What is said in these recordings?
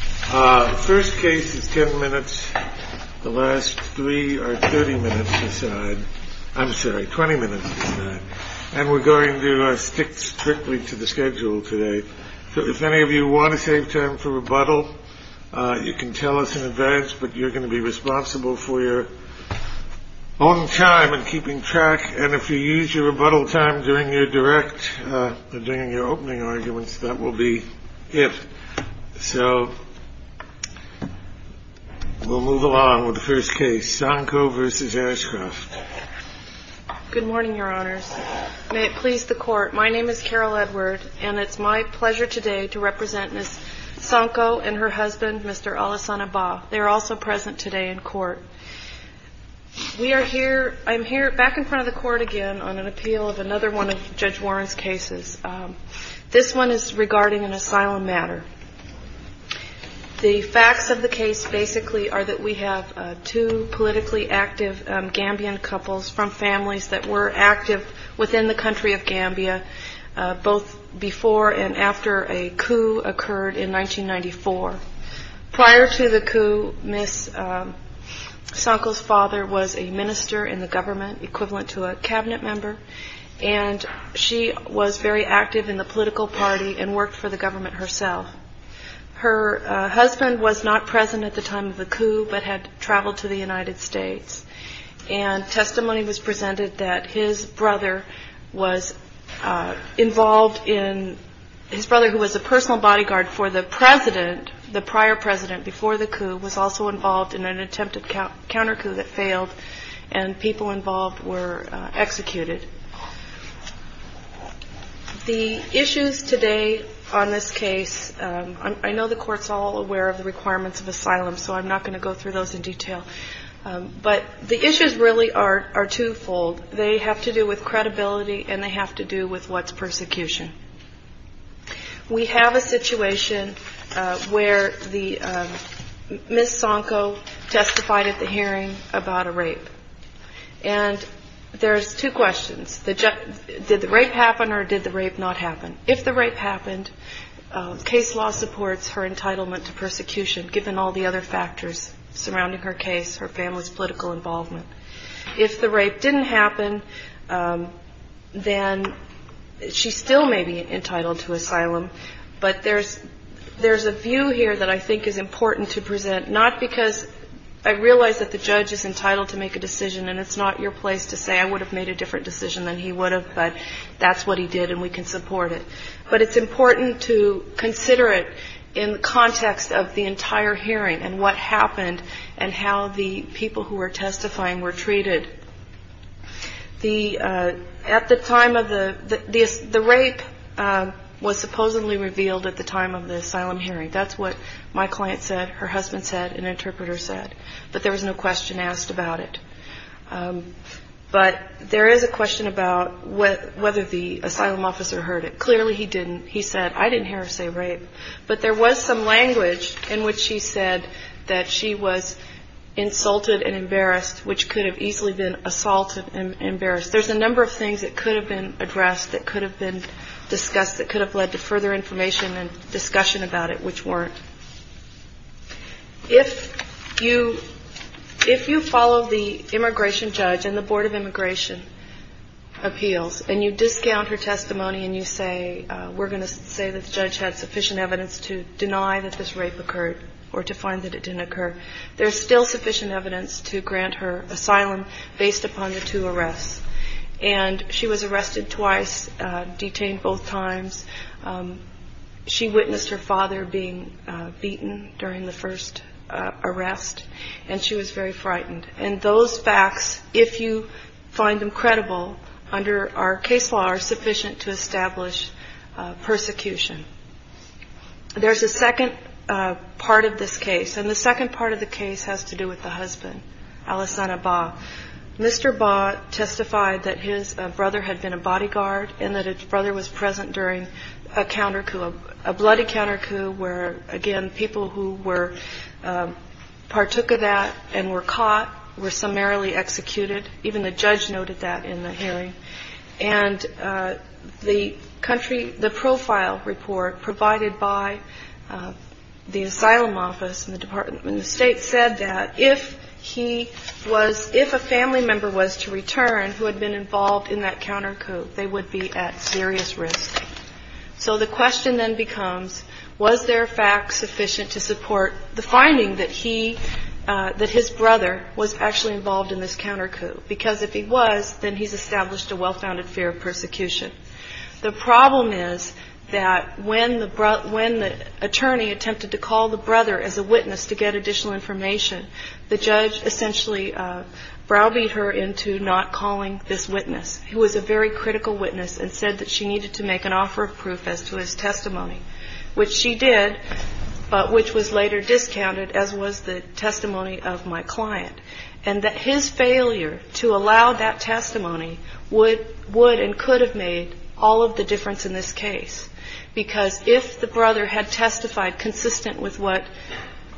The first case is 10 minutes. The last three are 30 minutes inside. I'm sorry, 20 minutes. And we're going to stick strictly to the schedule today. If any of you want to save time for rebuttal, you can tell us in advance, but you're going to be responsible for your own time and keeping track. And if you use your rebuttal time during your direct opening arguments, that will be it. So we'll move along with the first case, Sanko v. Ashcroft. Good morning, Your Honors. May it please the court. My name is Carol Edward, and it's my pleasure today to represent Ms. Sanko and her husband, Mr. Alassan Abba. They are also present today in court. We are here. I'm here back in front of the court again on an appeal of another one of Judge Warren's cases. This one is regarding an asylum matter. The facts of the case basically are that we have two politically active Gambian couples from families that were active within the country of Gambia, both before and after a coup occurred in 1994. Prior to the coup, Ms. Sanko's father was a minister in the government, equivalent to a cabinet member, and she was very active in the political party and worked for the government herself. Her husband was not present at the time of the coup, but had traveled to the United States. And testimony was presented that his brother was involved in – his brother, who was a personal bodyguard for the president, the prior president before the coup, and people involved were executed. The issues today on this case – I know the court's all aware of the requirements of asylum, so I'm not going to go through those in detail, but the issues really are twofold. They have to do with credibility, and they have to do with what's persecution. We have a situation where Ms. Sanko testified at the hearing about a rape. And there's two questions – did the rape happen or did the rape not happen? If the rape happened, case law supports her entitlement to persecution, given all the other factors surrounding her case, her family's political involvement. If the rape didn't happen, then she still may be entitled to asylum. But there's a view here that I think is important to present, not because I realize that the judge is entitled to make a decision, and it's not your place to say I would have made a different decision than he would have, but that's what he did and we can support it. But it's important to consider it in context of the entire hearing and what happened and how the people who were testifying were treated. The rape was supposedly revealed at the time of the asylum hearing. That's what my client said, her husband said, an interpreter said. But there was no question asked about it. But there is a question about whether the asylum officer heard it. Clearly he didn't. He said, I didn't hear her say rape. But there was some language in which she said that she was insulted and embarrassed, which could have easily been assaulted and embarrassed. There's a number of things that could have been addressed, that could have been discussed, that could have led to further information and discussion about it, which weren't. If you follow the immigration judge and the Board of Immigration Appeals, and you discount her testimony and you say, we're going to say that the judge had sufficient evidence to deny that this rape occurred or to find that it didn't occur, there's still sufficient evidence to grant her asylum based upon the two arrests. And she was arrested twice, detained both times. She witnessed her father being beaten during the first arrest and she was very frightened. And those facts, if you find them credible under our case law, are sufficient to establish persecution. There's a second part of this case. And the second part of the case has to do with the husband, Alessandro Ba. Mr. Ba testified that his brother had been a bodyguard and that his brother was present during a bloody countercoup where, again, people who partook of that and were caught were summarily executed. Even the judge noted that in the hearing. And the profile report provided by the asylum office and the State said that if he was, if a family member was to return who had been involved in that countercoup, they would be at serious risk. So the question then becomes, was there fact sufficient to support the finding that his brother was actually involved in this countercoup? Because if he was, then he's established a well-founded fear of persecution. The problem is that when the attorney attempted to call the brother as a witness to get additional information, the judge essentially browbeat her into not calling this witness, who was a very critical witness and said that she needed to make an offer of proof as to his testimony. Which she did, but which was later discounted as was the testimony of my client. And that his failure to allow that testimony would and could have made all of the difference in this case because if the brother had testified consistent with what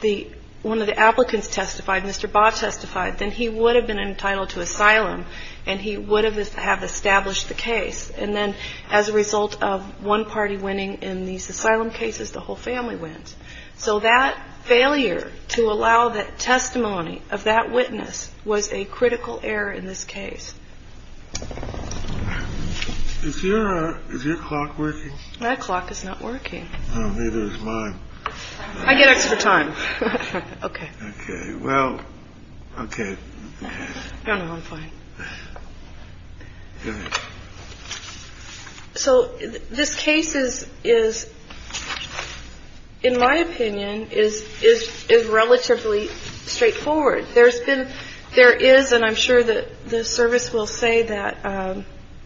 the, one of the applicants testified, Mr. Ba testified, then he would have been entitled to asylum and he would have established the case. And then as a result of one party winning in these asylum cases, the whole family wins. So that failure to allow that testimony of that witness was a critical error in this case. Is your clock working? That clock is not working. Oh, neither is mine. I get extra time. Okay. Okay. Well, okay. No, no, I'm fine. So this case is, in my opinion, is relatively straightforward. There's been, there is, and I'm sure that the service will say that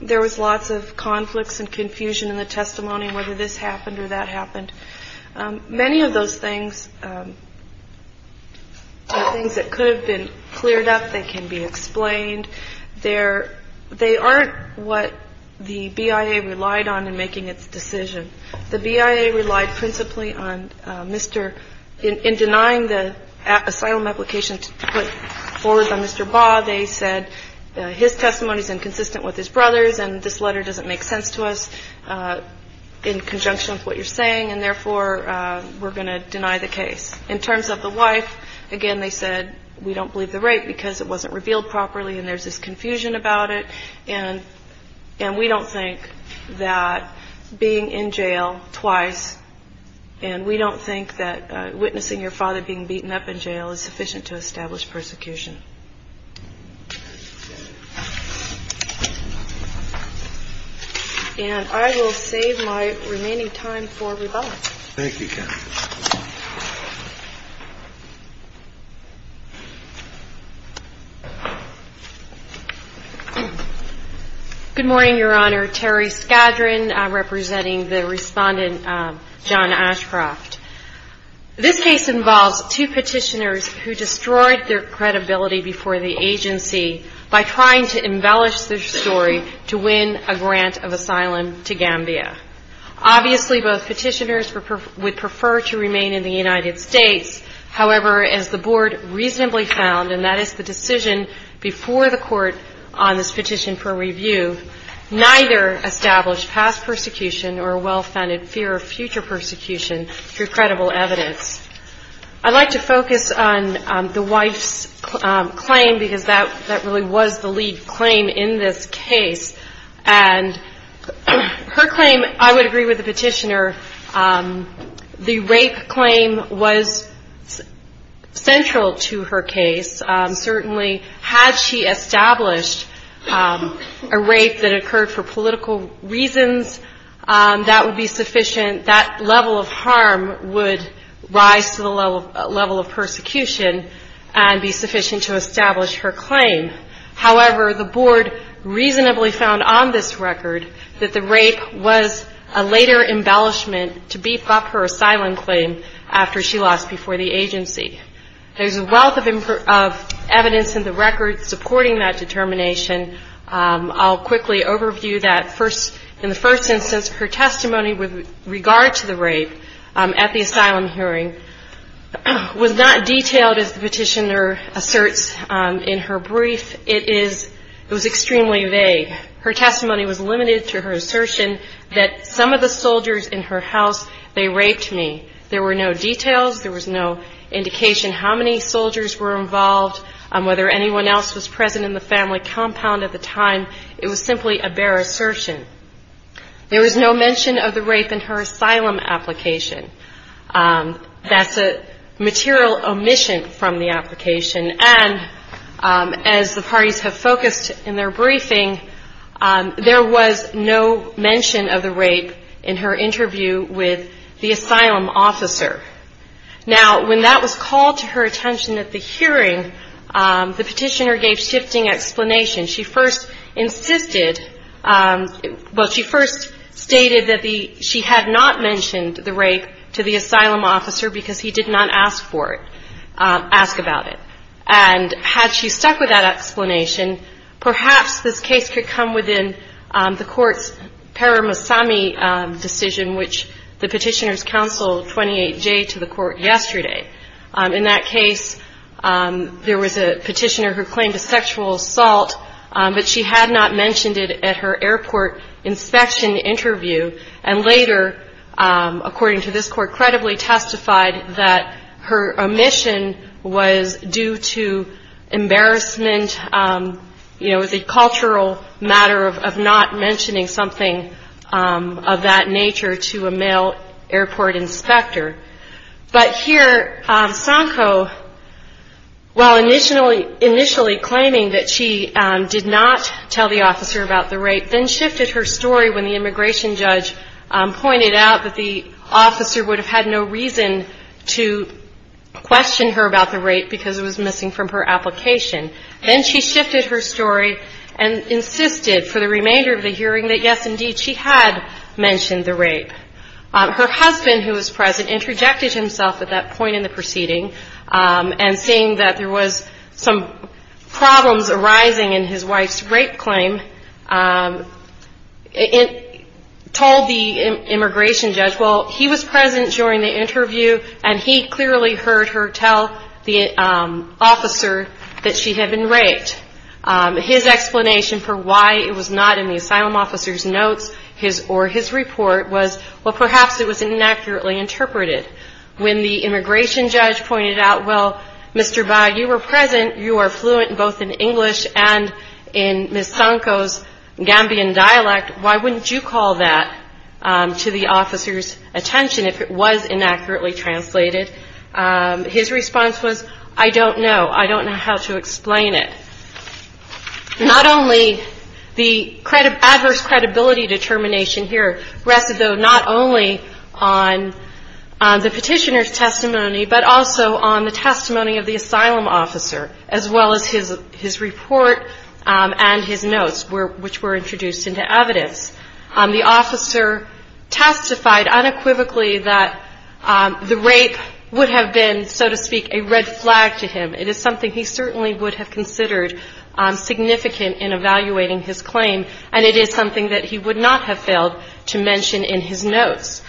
there was lots of conflicts and confusion in the testimony, whether this happened or that happened. Many of those things are things that could have been cleared up. They can be explained. There, they aren't what the BIA relied on in making its decision. The BIA relied principally on Mr., in denying the asylum application to put forward by Mr. Ba, they said his testimony is inconsistent with his brother's and this letter doesn't make sense to us in conjunction with what you're saying. And therefore, we're going to deny the case. In terms of the wife, again, they said, we don't believe the rape because it wasn't revealed properly and there's this confusion about it. And, and we don't think that being in jail twice, and we don't think that witnessing your father being beaten up in jail is sufficient to establish persecution. And I will save my remaining time for rebuttal. Thank you, Kathy. Good morning, Your Honor. Terry Skadron, representing the Respondent, John Ashcroft. This case involves two petitioners who destroyed their credibility before the agency by trying to embellish their story to win a grant of asylum to Gambia. Obviously, both petitioners would prefer to remain in the United States. However, as the Board reasonably found, and that is the decision before the Court on this petition for review, neither established past persecution or a well-founded fear of future persecution through credible evidence. I'd like to focus on the wife's claim because that really was the lead claim in this case. And her claim, I would agree with the petitioner, the rape claim was central to her case. Certainly, had she established a rape that occurred for political reasons, that would be sufficient, that level of harm would rise to the level of persecution and be sufficient to establish her claim. However, the Board reasonably found on this record that the rape was a later embellishment to beef up her asylum claim after she lost before the agency. There's a wealth of evidence in the record supporting that determination. I'll quickly overview that. In the first instance, her testimony with regard to the rape at the asylum hearing was not detailed as the petitioner asserts in her brief. It was extremely vague. Her testimony was limited to her assertion that some of the soldiers in her house, they raped me. There were no details. There was no indication how many soldiers were involved, whether anyone else was present in the family compound at the time. It was simply a bare assertion. There was no mention of the rape in her asylum application. That's a material omission from the application. And as the parties have focused in their briefing, there was no mention of the rape in her interview with the asylum officer. Now, when that was called to her attention at the hearing, the petitioner gave shifting explanations. She first insisted, well, she first stated that she had not mentioned the rape to the asylum officer because he did not ask for it, ask about it. And had she stuck with that explanation, perhaps this case could come within the court's Paramusami decision, which the petitioners counseled 28-J to the court yesterday. In that case, there was a petitioner who claimed a sexual assault, but she had not mentioned it at her airport inspection interview, and later, according to this court, credibly testified that her omission was due to embarrassment, you know, the cultural matter of not mentioning something of that nature to a male airport inspector. But here, Sanko, while initially claiming that she did not tell the officer about the rape, then shifted her story when the immigration judge pointed out that the officer would have had no reason to question her about the rape because it was missing from her application. Then she shifted her story and insisted for the remainder of the hearing that, yes, indeed, she had mentioned the rape. Her husband, who was present, interjected himself at that point in the proceeding and seeing that there was some problems arising in his wife's rape claim, told the immigration judge, well, he was present during the interview, and he clearly heard her tell the officer that she had been raped. His explanation for why it was not in the asylum officer's notes or his report was, well, perhaps it was inaccurately interpreted. When the immigration judge pointed out, well, Mr. Baugh, you were present, you were fluent both in English and in Ms. Sanko's Gambian dialect, why wouldn't you call that to the officer's attention if it was inaccurately translated? His response was, I don't know. I don't know how to explain it. Not only the adverse credibility determination here rested, though, not only on the petitioner's testimony but also on the testimony of the asylum officer, as well as his report and his notes, which were introduced into evidence. The officer testified unequivocally that the rape would have been, so to speak, a red flag to him. It is something he certainly would have considered significant in evaluating his claim, and it is something that he would not have failed to mention in his notes.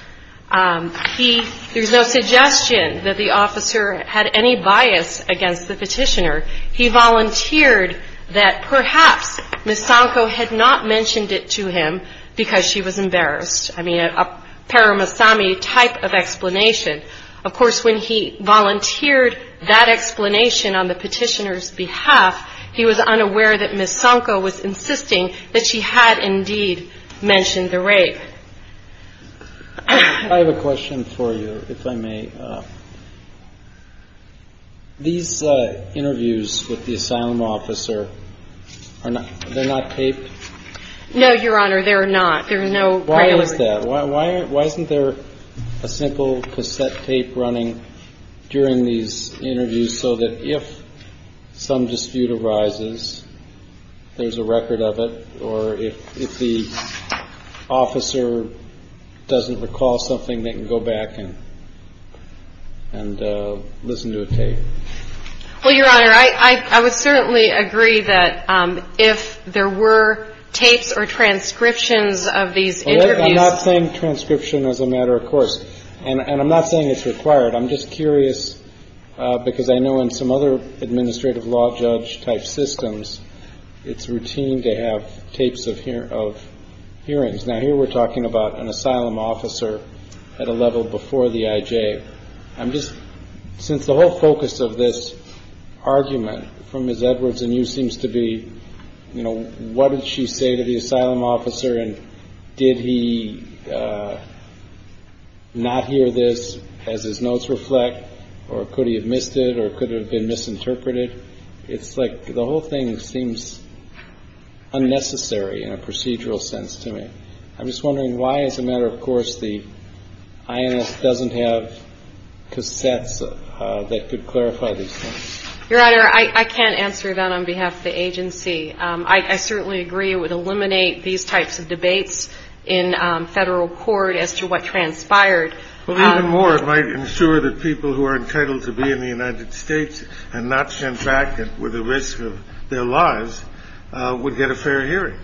There's no suggestion that the officer had any bias against the petitioner. He volunteered that perhaps Ms. Sanko had not mentioned it to him because she was embarrassed. I mean, a paramissami type of explanation. Of course, when he volunteered that explanation on the petitioner's behalf, he was unaware that Ms. Sanko was insisting that she had indeed mentioned the rape. I have a question for you, if I may. These interviews with the asylum officer, they're not taped? No, Your Honor, they're not. Why is that? Why isn't there a simple cassette tape running during these interviews so that if some dispute arises, there's a record of it, or if the officer doesn't recall something, they can go back and listen to a tape? Well, Your Honor, I would certainly agree that if there were tapes or transcriptions of these interviews. I'm not saying transcription as a matter of course, and I'm not saying it's required. I'm just curious because I know in some other administrative law judge type systems, it's routine to have tapes of hearings. Now, here we're talking about an asylum officer at a level before the IJ. I'm just, since the whole focus of this argument from Ms. Edwards and you seems to be, you know, what did she say to the asylum officer, and did he not hear this as his notes reflect, or could he have missed it, or could it have been misinterpreted? It's like the whole thing seems unnecessary in a procedural sense to me. I'm just wondering why, as a matter of course, the INS doesn't have cassettes that could clarify these things. Your Honor, I can't answer that on behalf of the agency. I certainly agree it would eliminate these types of debates in federal court as to what transpired. Well, even more, it might ensure that people who are entitled to be in the United States and not sent back with the risk of their lives would get a fair hearing.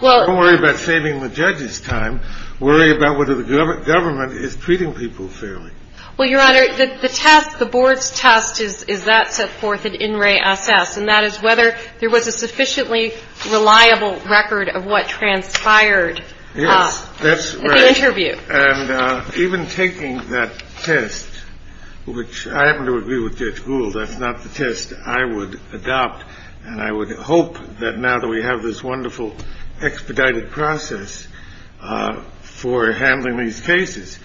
Don't worry about saving the judge's time. Worry about whether the government is treating people fairly. Well, Your Honor, the test, the board's test is that set forth at INRAE-SS, and that is whether there was a sufficiently reliable record of what transpired at the interview. Yes, that's right. And even taking that test, which I happen to agree with Judge Gould, that's not the test I would adopt, and I would hope that now that we have this wonderful expedited process for handling these cases,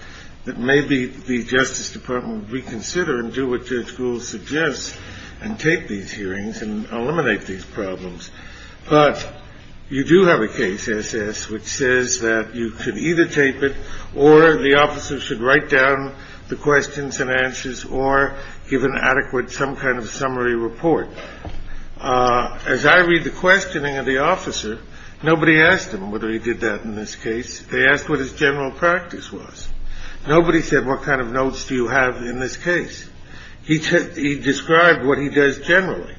that maybe the Justice Department would reconsider and do what Judge Gould suggests and take these hearings and eliminate these problems. But you do have a case, SS, which says that you could either tape it or the officer should write down the questions and answers or give an adequate some kind of summary report. As I read the questioning of the officer, nobody asked him whether he did that in this case. They asked what his general practice was. Nobody said, what kind of notes do you have in this case? He described what he does generally.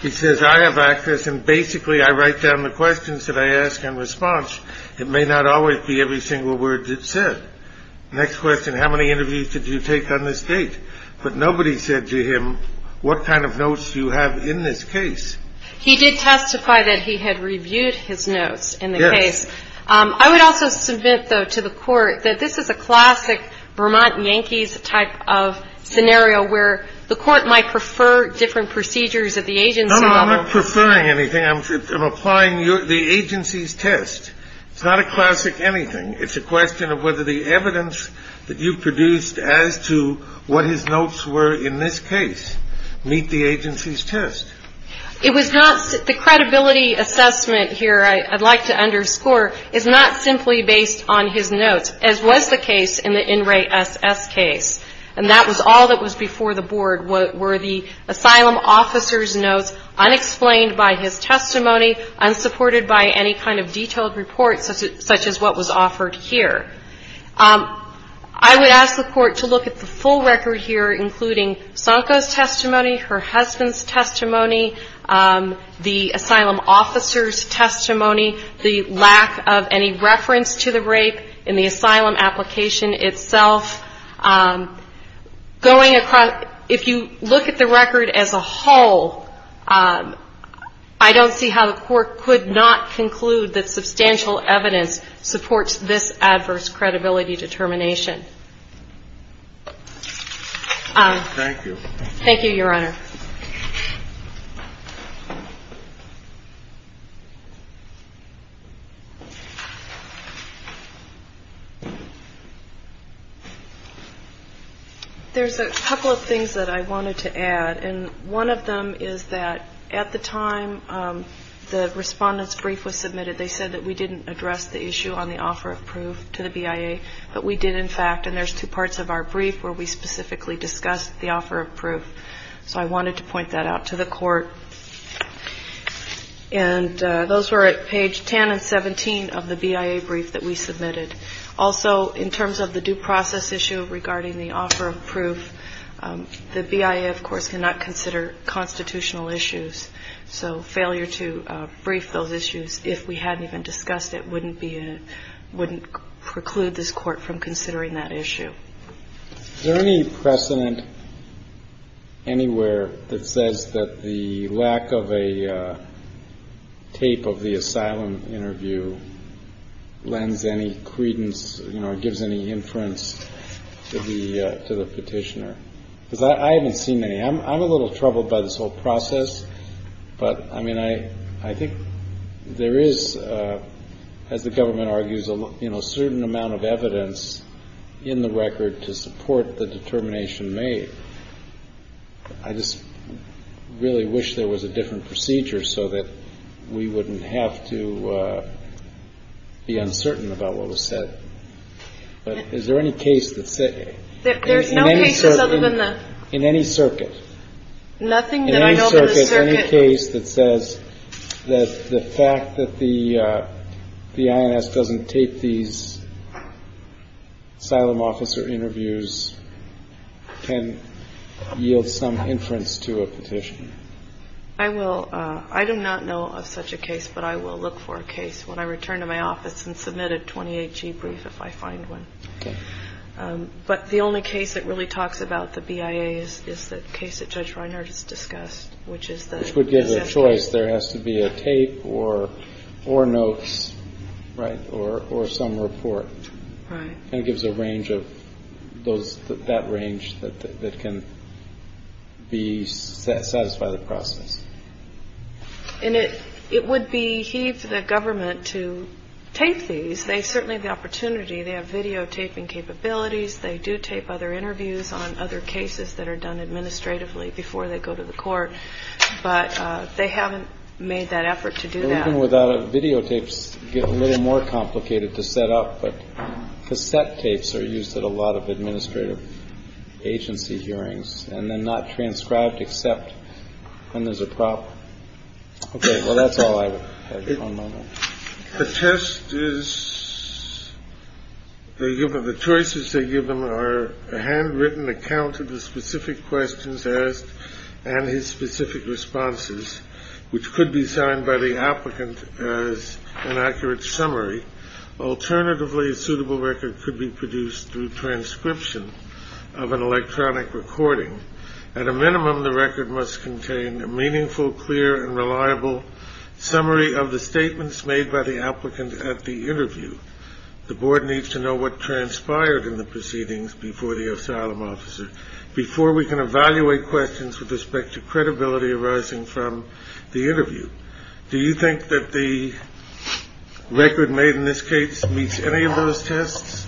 He says, I have access and basically I write down the questions that I ask in response. It may not always be every single word that's said. Next question, how many interviews did you take on this date? But nobody said to him, what kind of notes do you have in this case? He did testify that he had reviewed his notes in the case. Yes. I would also submit, though, to the Court that this is a classic Vermont Yankees type of scenario where the Court might prefer different procedures at the agency level. No, I'm not preferring anything. I'm applying the agency's test. It's not a classic anything. It's a question of whether the evidence that you produced as to what his notes were in this case meet the agency's test. It was not the credibility assessment here I'd like to underscore is not simply based on his notes, as was the case in the In Re SS case. And that was all that was before the Board were the asylum officer's notes unexplained by his testimony, unsupported by any kind of detailed report such as what was offered here. I would ask the Court to look at the full record here, including Sanko's testimony, her husband's testimony, the asylum officer's testimony, the lack of any reference to the rape in the asylum application itself. Going across, if you look at the record as a whole, I don't see how the Court could not conclude that substantial evidence supports this adverse credibility determination. Thank you. Thank you, Your Honor. There's a couple of things that I wanted to add. And one of them is that at the time the Respondent's brief was submitted, they said that we didn't address the issue on the offer of proof to the BIA. But we did, in fact, and there's two parts of our brief where we specifically discussed the offer of proof. So I wanted to point that out to the Court. And those were at page 10 and 17 of the BIA brief that we submitted. Also, in terms of the due process issue regarding the offer of proof, the BIA, of course, cannot consider constitutional issues. So failure to brief those issues, if we hadn't even discussed it, wouldn't preclude this Court from considering that issue. Is there any precedent anywhere that says that the lack of a tape of the asylum interview lends any credence, you know, or gives any inference to the petitioner? Because I haven't seen any. I'm a little troubled by this whole process. But, I mean, I think there is, as the government argues, you know, a certain amount of evidence in the record to support the determination made. I just really wish there was a different procedure so that we wouldn't have to be uncertain about what was said. But is there any case that says... There's no cases other than the... Nothing that I know in the circuit... Any case that says that the fact that the INS doesn't tape these asylum officer interviews can yield some inference to a petitioner? I will. I do not know of such a case, but I will look for a case when I return to my office and submit a 28G brief if I find one. Okay. But the only case that really talks about the BIA is the case that Judge Reinhardt has discussed, which is the... Which would give the choice. There has to be a tape or notes, right, or some report. Right. And it gives a range of those, that range that can satisfy the process. And it would beheave the government to tape these. They certainly have the opportunity. They have videotaping capabilities. They do tape other interviews on other cases that are done administratively before they go to the court. But they haven't made that effort to do that. Even without videotapes, it gets a little more complicated to set up. But cassette tapes are used at a lot of administrative agency hearings and then not transcribed except when there's a problem. Okay. Well, that's all I have at the moment. The test is... The choices they give them are a handwritten account of the specific questions asked and his specific responses, which could be signed by the applicant as an accurate summary. Alternatively, a suitable record could be produced through transcription of an electronic recording. At a minimum, the record must contain a meaningful, clear and reliable summary of the statements made by the applicant at the interview. The board needs to know what transpired in the proceedings before the asylum officer, before we can evaluate questions with respect to credibility arising from the interview. Do you think that the record made in this case meets any of those tests?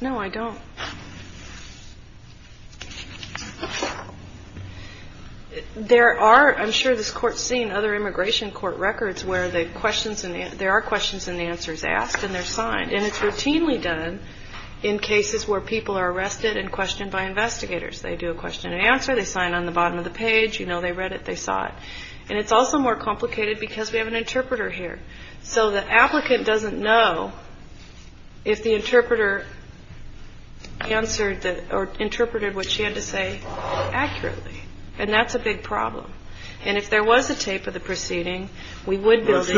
No, I don't. There are, I'm sure this court's seen other immigration court records where there are questions and answers asked and they're signed. And it's routinely done in cases where people are arrested and questioned by investigators. They do a question and answer. They sign on the bottom of the page. You know they read it. They saw it. And it's also more complicated because we have an interpreter here. So the applicant doesn't know if the interpreter answered or interpreted what she had to say accurately. And that's a big problem. And if there was a tape of the proceeding, we would be able to.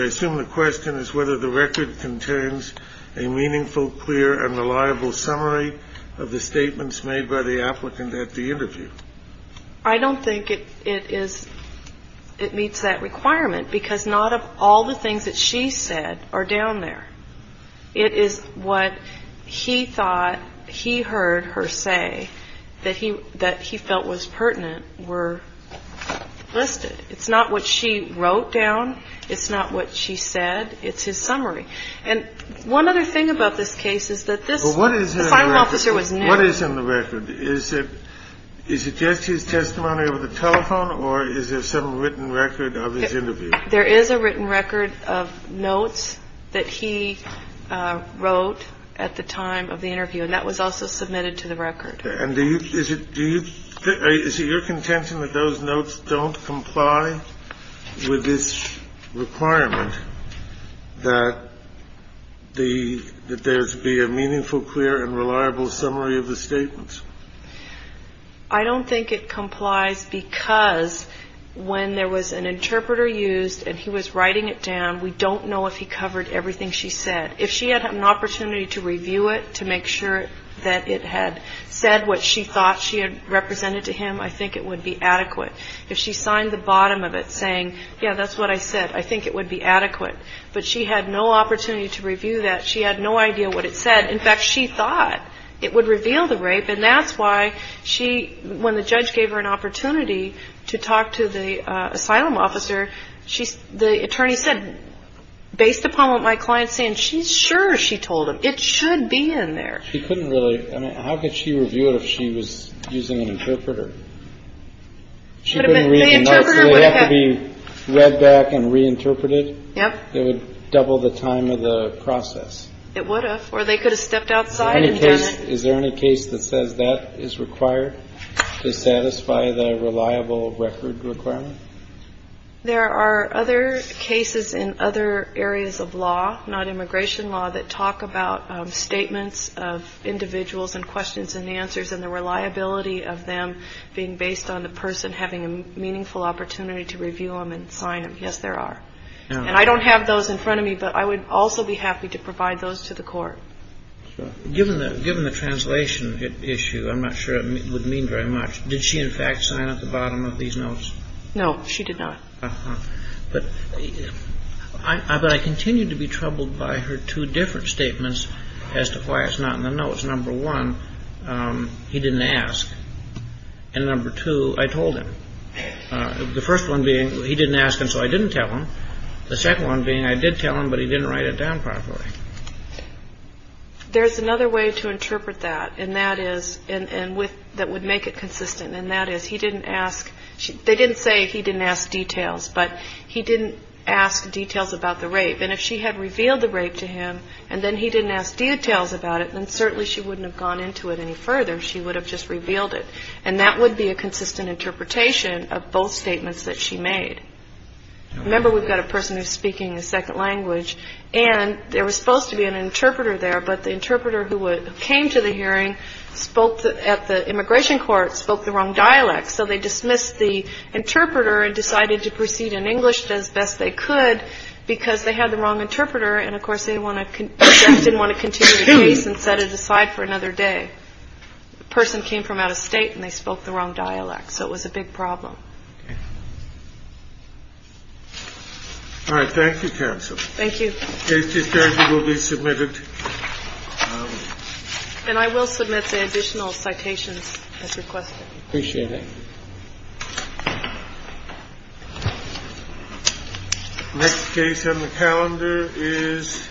I assume the question is whether the record contains a meaningful, clear and reliable summary of the statements made by the applicant at the interview. I don't think it is. It meets that requirement because not of all the things that she said are down there. It is what he thought he heard her say that he that he felt was pertinent were listed. It's not what she wrote down. It's not what she said. It's his summary. And one other thing about this case is that this what is the final officer was what is in the record? Is it is it just his testimony over the telephone or is there some written record of his interview? There is a written record of notes that he wrote at the time of the interview. And that was also submitted to the record. And is it do you think is it your contention that those notes don't comply with this requirement that the that there be a meaningful, clear and reliable summary of the statements? I don't think it complies because when there was an interpreter used and he was writing it down, we don't know if he covered everything she said. If she had an opportunity to review it to make sure that it had said what she thought she had represented to him, I think it would be adequate. If she signed the bottom of it saying, yeah, that's what I said, I think it would be adequate. But she had no opportunity to review that. She had no idea what it said. In fact, she thought it would reveal the rape. And that's why she when the judge gave her an opportunity to talk to the asylum officer, she's the attorney said, based upon what my client's saying, she's sure she told him it should be in there. She couldn't really. I mean, how could she review it if she was using an interpreter? She didn't really have to be read back and reinterpreted. Yeah, it would double the time of the process. It would have or they could have stepped outside. Is there any case that says that is required to satisfy the reliable record requirement? There are other cases in other areas of law, not immigration law, that talk about statements of individuals and questions and answers and the reliability of them being based on the person having a meaningful opportunity to review them and sign them. Yes, there are. And I don't have those in front of me, but I would also be happy to provide those to the court. Given that, given the translation issue, I'm not sure it would mean very much. Did she, in fact, sign at the bottom of these notes? No, she did not. But I continue to be troubled by her two different statements as to why it's not in the notes. Number one, he didn't ask. And number two, I told him. The first one being he didn't ask him, so I didn't tell him. The second one being I did tell him, but he didn't write it down properly. There's another way to interpret that. And that is and with that would make it consistent. And that is he didn't ask. They didn't say he didn't ask details, but he didn't ask details about the rape. And if she had revealed the rape to him and then he didn't ask details about it, then certainly she wouldn't have gone into it any further. She would have just revealed it. And that would be a consistent interpretation of both statements that she made. Remember, we've got a person who's speaking a second language. And there was supposed to be an interpreter there. But the interpreter who came to the hearing spoke at the immigration court, spoke the wrong dialect. So they dismissed the interpreter and decided to proceed in English as best they could because they had the wrong interpreter. And, of course, they didn't want to continue the case and set it aside for another day. The person came from out of state and they spoke the wrong dialect. So it was a big problem. All right. Thank you, counsel. Thank you. This case will be submitted. And I will submit the additional citations as requested. Appreciate it. Next case on the calendar is.